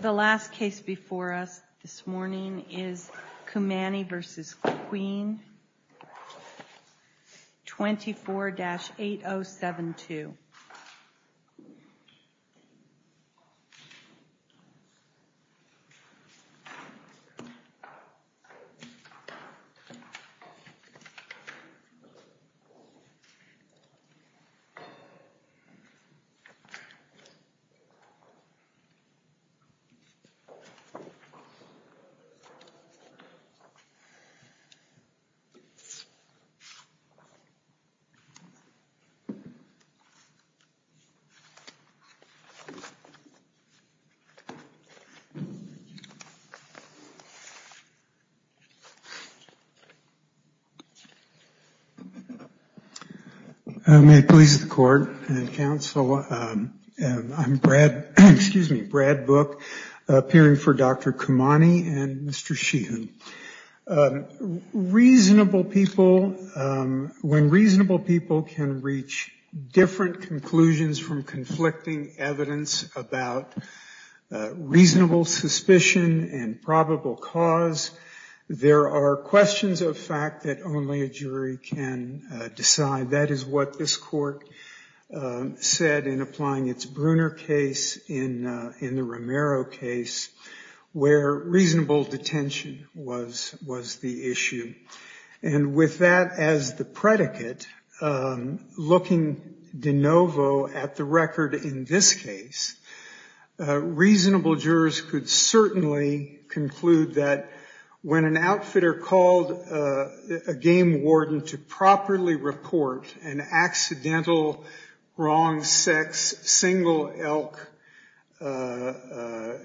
The last case before us this morning is Cumani v. Queen, 24-8072. Establishment of the Deputy Chief Judge. When reasonable people can reach different conclusions from conflicting evidence about reasonable suspicion and probable cause, there are questions of fact that only a jury can decide. That is what this court said in applying its Bruner case in the Romero case, where reasonable detention was the issue. And with that as the predicate, looking de novo at the record in this case, reasonable jurors could certainly conclude that when an outfitter called a game warden to properly report an accidental wrong sex single elk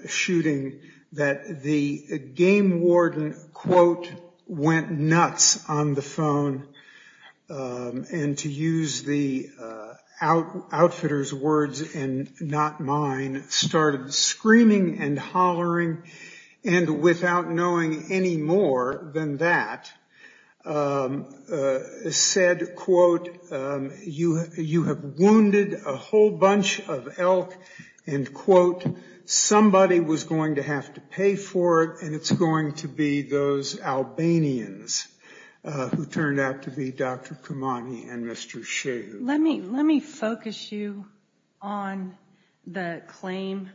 shooting, that the game warden, quote, went nuts on the phone, and to use the outfitter's words and not mine, started screaming and hollering and without knowing any more than that, said, quote, you have wounded a whole bunch of elk, and quote, somebody was going to have to pay for it, and it's going to be those Albanians who turned out to be Dr. Kamani and Mr. Sheu. Let me focus you on the claim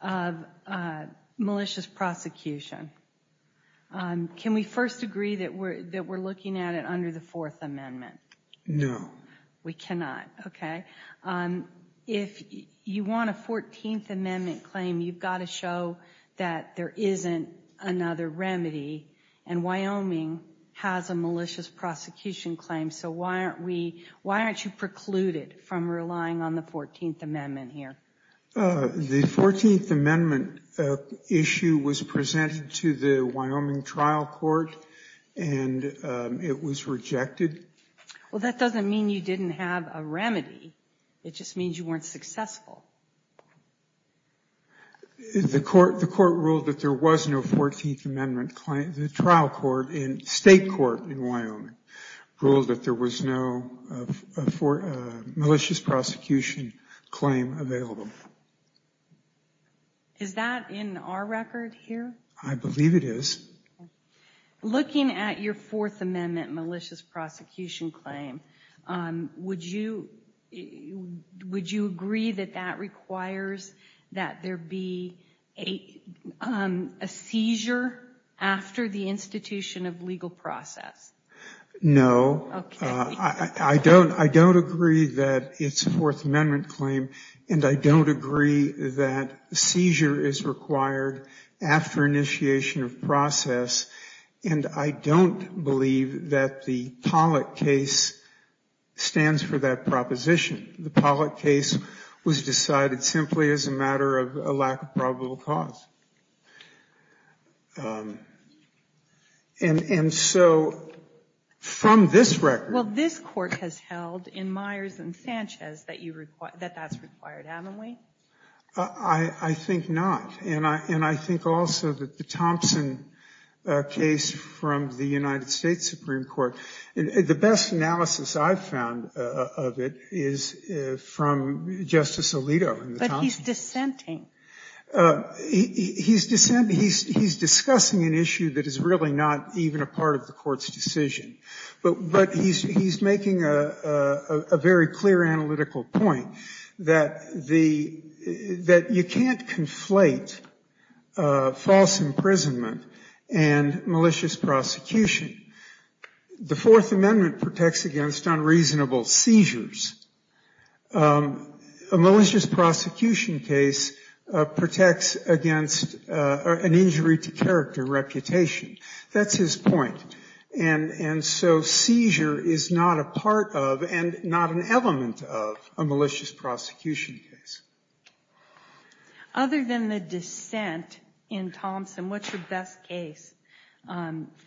of malicious prosecution. Can we first agree that we're looking at it under the Fourth Amendment? No. We cannot, okay? If you want a Fourteenth Amendment claim, you've got to show that there isn't another remedy, and Wyoming has a malicious prosecution claim, so why aren't you precluded from relying on the Fourteenth Amendment here? The Fourteenth Amendment issue was presented to the Wyoming trial court, and it was rejected. Well, that doesn't mean you didn't have a remedy. It just means you weren't successful. The court ruled that there was no Fourteenth Amendment claim. The trial court in state court in Wyoming ruled that there was no malicious prosecution claim available. Is that in our record here? I believe it is. Looking at your Fourth Amendment malicious prosecution claim, would you agree that that requires that there be a seizure after the institution of legal process? No. I don't agree that it's a Fourth Amendment claim, and I don't agree that seizure is required after initiation of process, and I don't believe that the Pollack case stands for that proposition. The Pollack case was decided simply as a matter of a lack of probable cause. And so, from this record… Well, this court has held in Myers and Sanchez that that's required, haven't we? I think not, and I think also that the Thompson case from the United States Supreme Court, the best analysis I've found of it is from Justice Alito. But he's dissenting. He's discussing an issue that is really not even a part of the court's decision. But he's making a very clear analytical point that you can't conflate false imprisonment and malicious prosecution. The Fourth Amendment protects against unreasonable seizures. A malicious prosecution case protects against an injury to character reputation. That's his point. And so seizure is not a part of and not an element of a malicious prosecution case. Other than the dissent in Thompson, what's your best case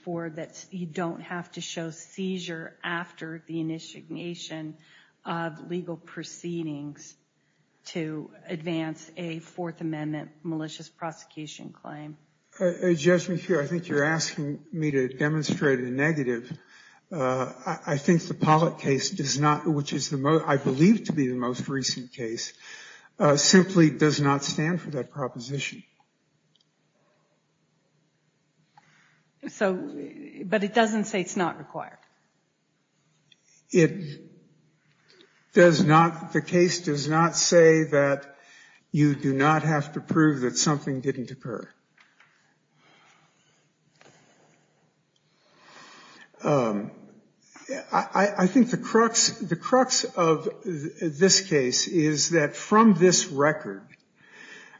for that you don't have to show seizure after the initiation of legal proceedings to advance a Fourth Amendment malicious prosecution claim? Judge McHugh, I think you're asking me to demonstrate a negative. I think the Pollitt case, which I believe to be the most recent case, simply does not stand for that proposition. But it doesn't say it's not required. The case does not say that you do not have to prove that something didn't occur. I think the crux of this case is that from this record,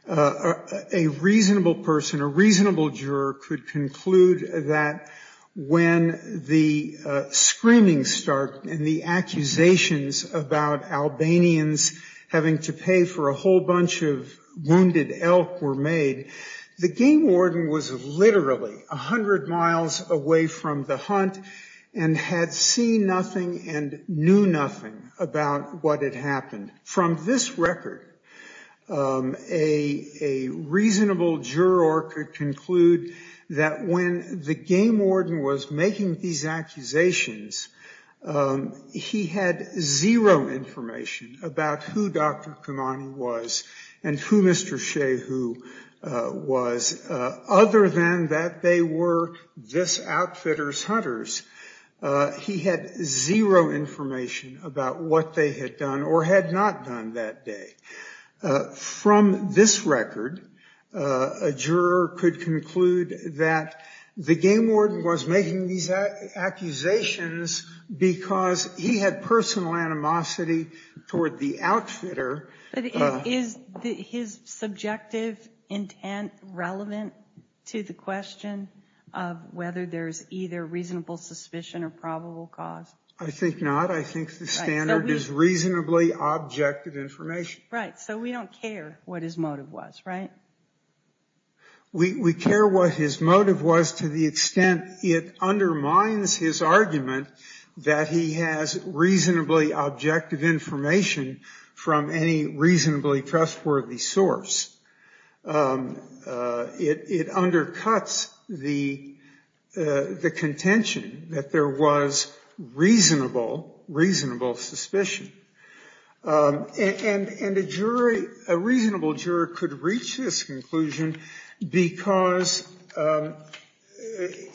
a reasonable person, a reasonable juror, could conclude that when the screaming started and the accusations about Albanians having to pay for a whole bunch of wounded elk were made, the game warden was literally 100 miles away from the hunt and had seen nothing and knew nothing about what had happened. From this record, a reasonable juror could conclude that when the game warden was making these accusations, he had zero information about who Dr. Kamani was and who Mr. Shehu was, other than that they were this outfitter's hunters. He had zero information about what they had done or had not done that day. From this record, a juror could conclude that the game warden was making these accusations because he had personal animosity toward the outfitter. Is his subjective intent relevant to the question of whether there's either reasonable suspicion or probable cause? I think not. I think the standard is reasonably objective information. Right. So we don't care what his motive was, right? We care what his motive was to the extent it undermines his argument that he has reasonably objective information from any reasonably trustworthy source. It undercuts the contention that there was reasonable suspicion. And a reasonable juror could reach this conclusion because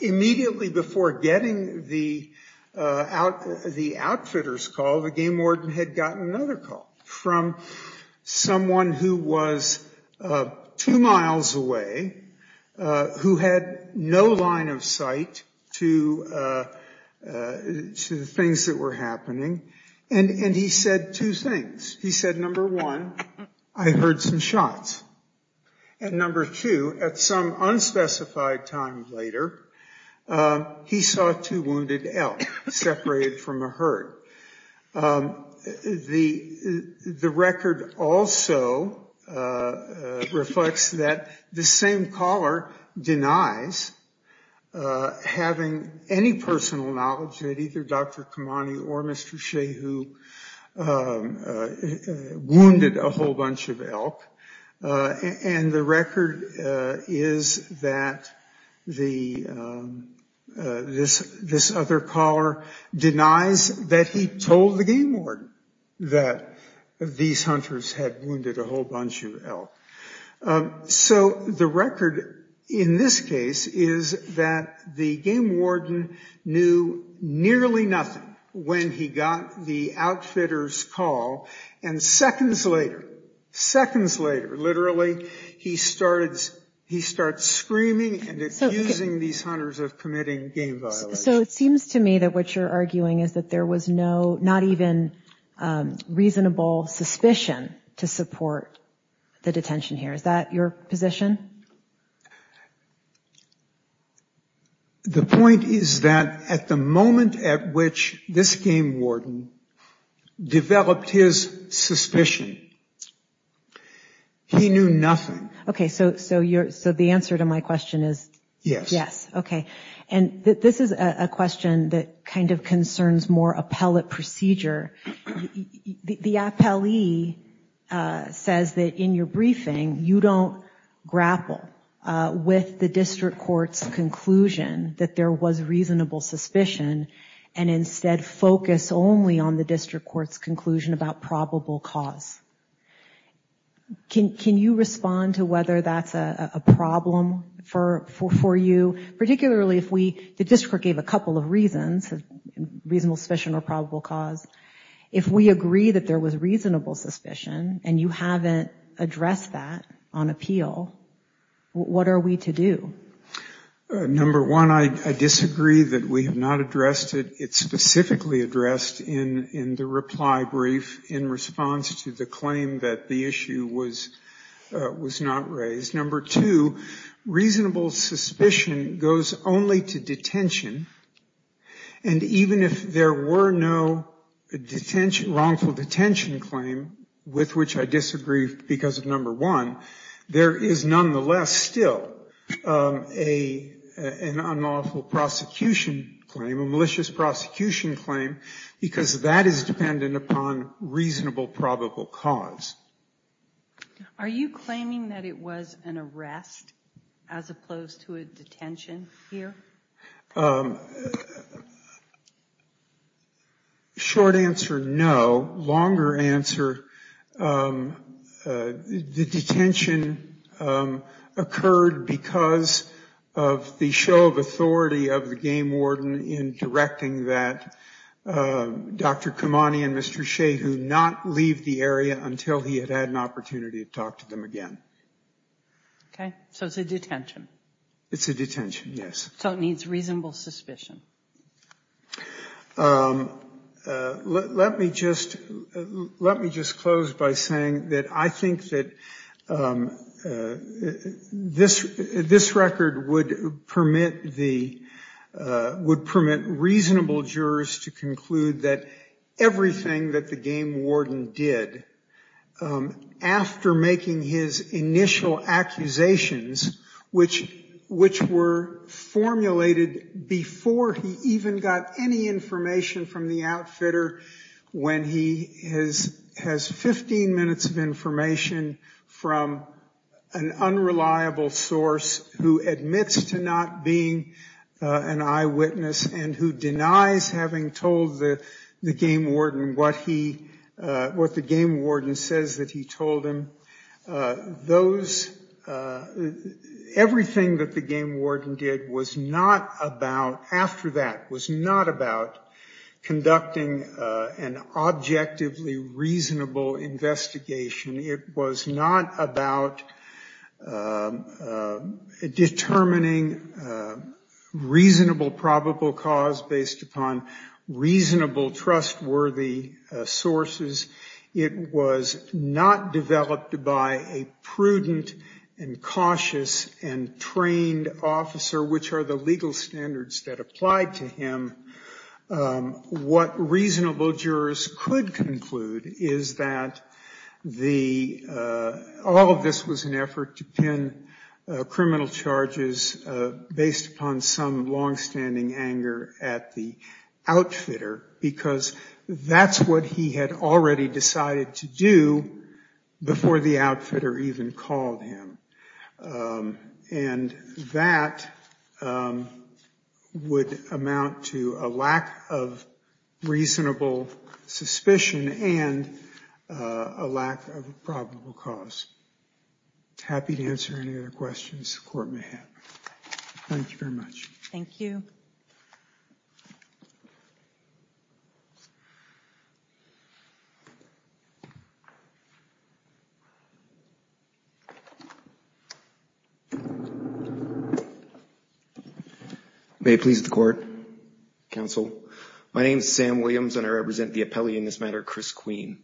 immediately before getting the outfitter's call, the game warden had gotten another call from someone who was two miles away, who had no line of sight to the things that were happening. And he said two things. He said, number one, I heard some shots. And number two, at some unspecified time later, he saw two wounded elk separated from a herd. The record also reflects that the same caller denies having any personal knowledge that either Dr. Kamani or Mr. Shehu wounded a whole bunch of elk. And the record is that this other caller denies that he told the game warden that these hunters had wounded a whole bunch of elk. So the record in this case is that the game warden knew nearly nothing when he got the outfitter's call. And seconds later, literally, he starts screaming and accusing these hunters of committing game violation. So it seems to me that what you're arguing is that there was not even reasonable suspicion to support the detention here. Is that your position? The point is that at the moment at which this game warden developed his suspicion, he knew nothing. Okay, so the answer to my question is yes. Okay, and this is a question that kind of concerns more appellate procedure. The appellee says that in your briefing, you don't grapple with the district court's conclusion that there was reasonable suspicion, and instead focus only on the district court's conclusion about probable cause. Can you respond to whether that's a problem for you? Particularly if the district court gave a couple of reasons, reasonable suspicion or probable cause, if we agree that there was reasonable suspicion and you haven't addressed that on appeal, what are we to do? Number one, I disagree that we have not addressed it. It's specifically addressed in the reply brief in response to the claim that the issue was not raised. Number two, reasonable suspicion goes only to detention, and even if there were no wrongful detention claim, with which I disagree because of number one, there is nonetheless still an unlawful prosecution claim, a malicious prosecution claim, because that is dependent upon reasonable probable cause. Are you claiming that it was an arrest as opposed to a detention here? Short answer, no. Longer answer, the detention occurred because of the show of authority of the game warden in directing that Dr. Kamani and Mr. Shehu not leave the area until he had had an opportunity to talk to them again. Okay, so it's a detention. It's a detention, yes. So it needs reasonable suspicion. Let me just close by saying that I think that this record would permit reasonable jurors to conclude that everything that the game warden did, after making his initial accusations, which were formulated before he even got any information from the outfitter, when he has 15 minutes of information from an unreliable source who admits to not being an eyewitness and who denies having told the game warden what he, what the game warden says that he told him, those, everything that the game warden did was not about, after that, was not about conducting an objectively reasonable investigation. It was not about determining reasonable probable cause based upon reasonable trustworthy sources. It was not developed by a prudent and cautious and trained officer, which are the legal standards that apply to him. What reasonable jurors could conclude is that the, all of this was an effort to pin criminal charges based upon some longstanding anger at the outfitter, because that's what he had already decided to do before the outfitter even called him. And that would amount to a lack of reasonable suspicion and a lack of probable cause. Happy to answer any other questions the court may have. Thank you very much. Thank you. May it please the court, counsel. My name is Sam Williams and I represent the appellee in this matter, Chris Queen.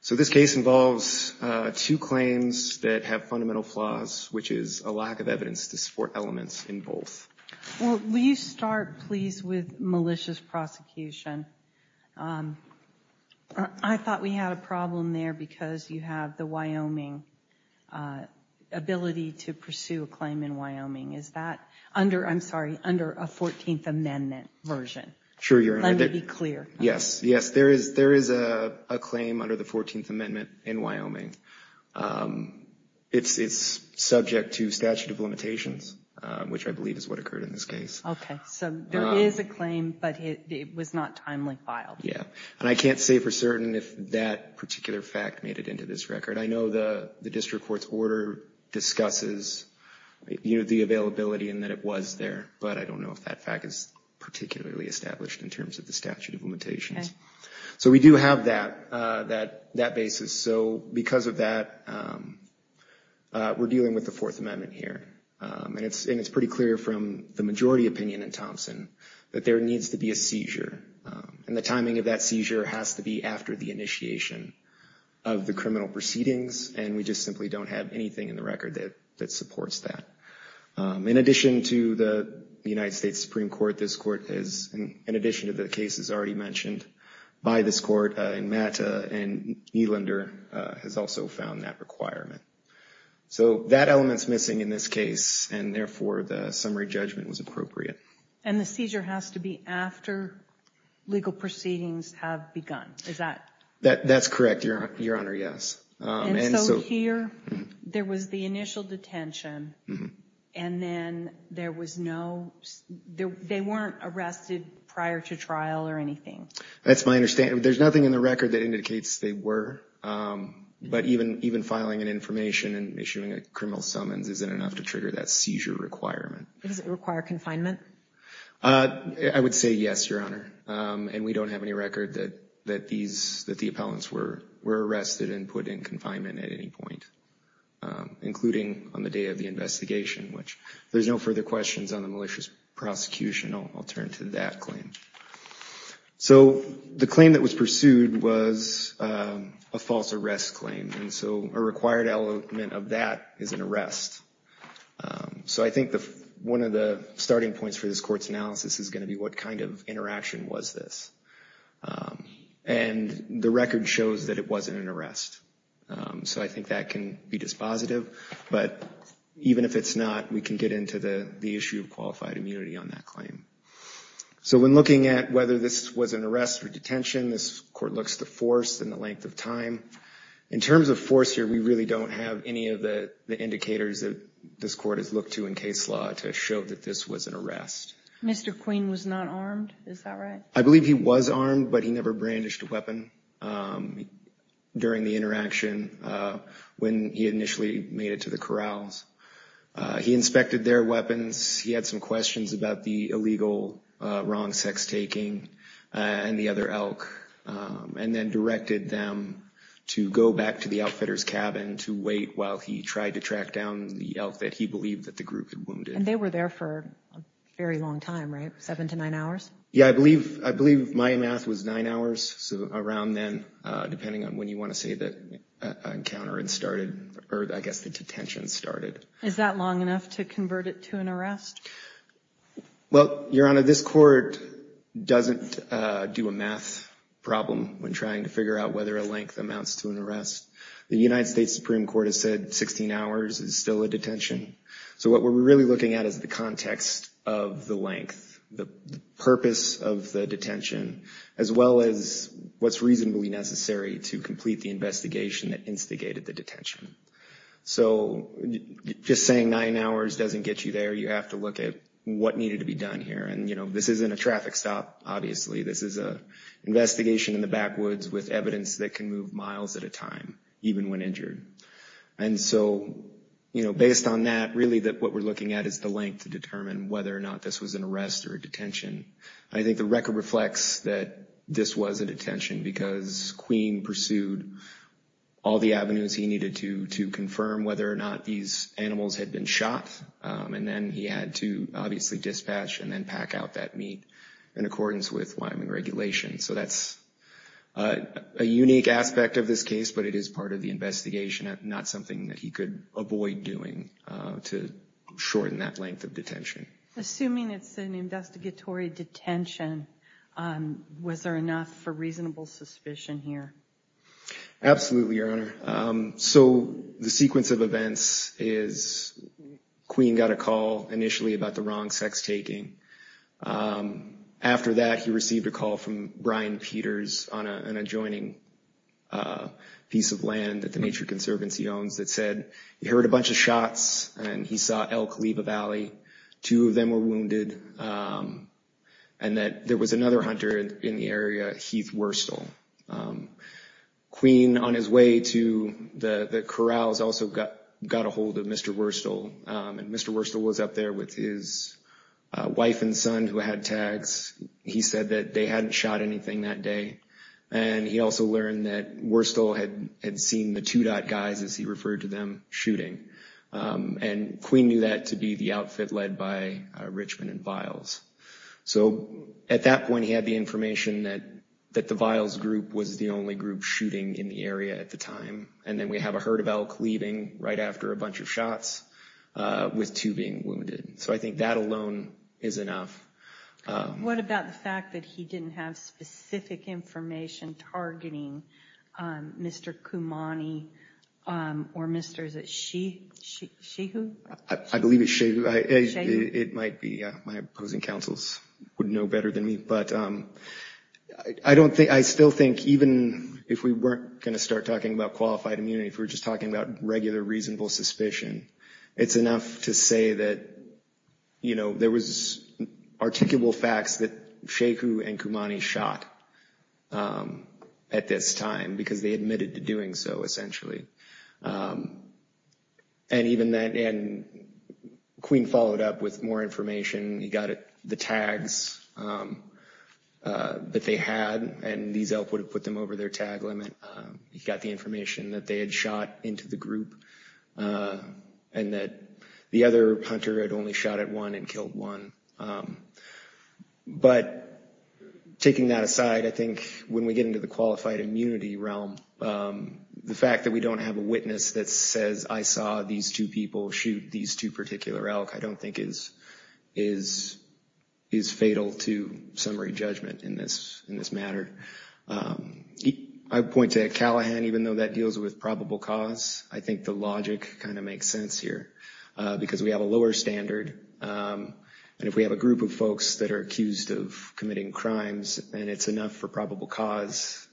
So this case involves two claims that have fundamental flaws, which is a lack of evidence to support elements in both. Well, will you start please with malicious prosecution. I thought we had a problem there because you have the Wyoming ability to pursue a claim in Wyoming. Is that under, I'm sorry, under a 14th Amendment version? Sure. Let me be clear. Yes, there is. There is a claim under the 14th Amendment in Wyoming. It's subject to statute of limitations, which I believe is what occurred in this case. Okay. So there is a claim, but it was not timely filed. Yeah. And I can't say for certain if that particular fact made it into this record. I know the district court's order discusses the availability and that it was there. But I don't know if that fact is particularly established in terms of the statute of limitations. So we do have that basis. So because of that, we're dealing with the Fourth Amendment here. And it's pretty clear from the majority opinion in Thompson that there needs to be a seizure. And the timing of that seizure has to be after the initiation of the criminal proceedings. And we just simply don't have anything in the record that supports that. In addition to the United States Supreme Court, this court is, in addition to the cases already mentioned by this court, and Matt and Nylander has also found that requirement. So that element's missing in this case. And therefore, the summary judgment was appropriate. And the seizure has to be after legal proceedings have begun. Is that... That's correct, Your Honor, yes. And so here, there was the initial detention, and then there was no... They weren't arrested prior to trial or anything? That's my understanding. There's nothing in the record that indicates they were. But even filing an information and issuing a criminal summons isn't enough to trigger that seizure requirement. Does it require confinement? I would say yes, Your Honor. And we don't have any record that the appellants were arrested and put in confinement at any point, including on the day of the investigation, which... If there's no further questions on the malicious prosecution, I'll turn to that claim. So the claim that was pursued was a false arrest claim. And so a required element of that is an arrest. So I think one of the starting points for this court's analysis is going to be what kind of interaction was this. And the record shows that it wasn't an arrest. So I think that can be dispositive. But even if it's not, we can get into the issue of qualified immunity on that claim. So when looking at whether this was an arrest or detention, this court looks at the force and the length of time. In terms of force here, we really don't have any of the indicators that this court has looked to in case law to show that this was an arrest. Mr. Queen was not armed, is that right? I believe he was armed, but he never brandished a weapon during the interaction when he initially made it to the corrals. He inspected their weapons. He had some questions about the illegal, wrong sex-taking and the other elk and then directed them to go back to the outfitter's cabin to wait while he tried to track down the elk that he believed that the group had wounded. And they were there for a very long time, right? Seven to nine hours? Yeah, I believe my math was nine hours. So around then, depending on when you want to say that encounter started or I guess the detention started. Is that long enough to convert it to an arrest? Well, Your Honor, this court doesn't do a math problem when trying to figure out whether a length amounts to an arrest. The United States Supreme Court has said 16 hours is still a detention. So what we're really looking at is the context of the length, the purpose of the detention, as well as what's reasonably necessary to complete the investigation that instigated the detention. So just saying nine hours doesn't get you there. You have to look at what needed to be done here. And, you know, this isn't a traffic stop, obviously. This is an investigation in the backwoods with evidence that can move miles at a time, even when injured. And so, you know, based on that, really what we're looking at is the length to determine whether or not this was an arrest or a detention. I think the record reflects that this was a detention because Queen pursued all the avenues he needed to to confirm whether or not these animals had been shot. And then he had to obviously dispatch and then pack out that meat in accordance with Wyoming regulations. So that's a unique aspect of this case, but it is part of the investigation, not something that he could avoid doing to shorten that length of detention. Assuming it's an investigatory detention, was there enough for reasonable suspicion here? Absolutely, Your Honor. So the sequence of events is, Queen got a call initially about the wrong sex taking. After that, he received a call from Brian Peters on an adjoining piece of land that the Nature Conservancy owns that said he heard a bunch of shots and he saw elk leave a valley. Two of them were wounded. And that there was another hunter in the area, Heath Worstel. Queen, on his way to the corrals, also got a hold of Mr. Worstel. And Mr. Worstel was up there with his wife and son who had tags. He said that they hadn't shot anything that day. And he also learned that Worstel had seen the two dot guys, as he referred to them, shooting. And Queen knew that to be the outfit led by Richmond and Viles. So at that point, he had the information that the Viles group was the only group shooting in the area at the time. And then we have a herd of elk leaving right after a bunch of shots with two being wounded. So I think that alone is enough. What about the fact that he didn't have specific information targeting Mr. Kumani or Mr., is it Shehu? I believe it's Shehu. It might be. My opposing counsels would know better than me. But I still think even if we weren't going to start talking about qualified immunity, if we were just talking about regular reasonable suspicion, it's enough to say that there was articulable facts that Shehu and Kumani shot at this time because they admitted to doing so, essentially. And Queen followed up with more information. He got the tags that they had, and these elk would have put them over their tag limit. He got the information that they had shot into the group and that the other hunter had only shot at one and killed one. But taking that aside, I think when we get into the qualified immunity realm, the fact that we don't have a witness that says, I saw these two people shoot these two particular elk, I don't think is fatal to summary judgment in this matter. I point to Callahan, even though that deals with probable cause, I think the logic kind of makes sense here because we have a lower standard. And if we have a group of folks that are accused of committing crimes, then it's enough for probable cause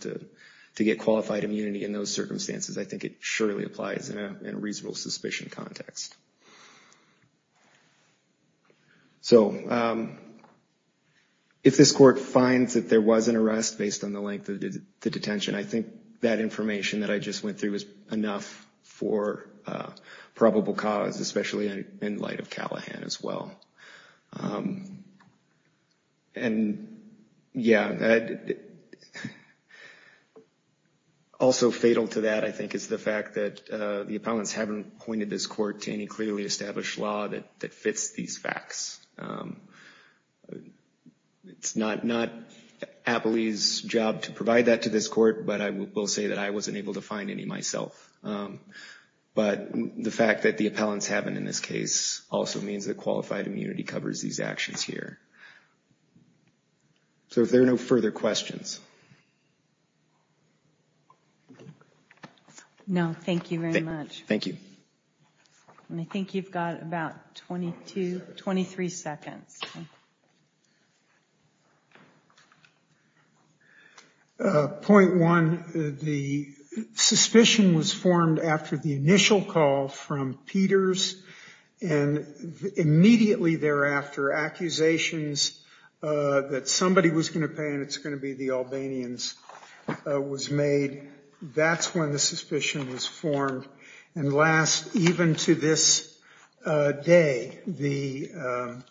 to get qualified immunity in those circumstances. I think it surely applies in a reasonable suspicion context. So if this court finds that there was an arrest based on the length of the detention, I think that information that I just went through is enough for probable cause, especially in light of Callahan as well. And yeah, also fatal to that, I think, is the fact that the appellants haven't pointed this court to any clearly established law that fits these facts. It's not Apley's job to provide that to this court, but I will say that I wasn't able to find any myself. But the fact that the appellants haven't in this case also means that qualified immunity covers these actions here. So if there are no further questions. No, thank you very much. Thank you. And I think you've got about 22, 23 seconds. Point one, the suspicion was formed after the initial call from Peters and immediately thereafter, accusations that somebody was going to pay and it's going to be the Albanians was made. That's when the suspicion was formed. And last, even to this day, the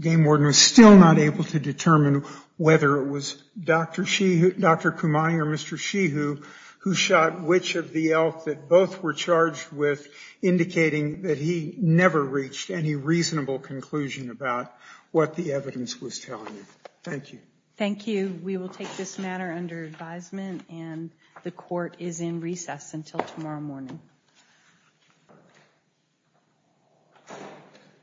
game warden was still not able to determine whether it was Dr. Kumani or Mr. Shihu who shot which of the elf that both were charged with, indicating that he never reached any reasonable conclusion about what the evidence was telling him. Thank you. Thank you. We will take this matter under advisement and the court is in recess until tomorrow morning.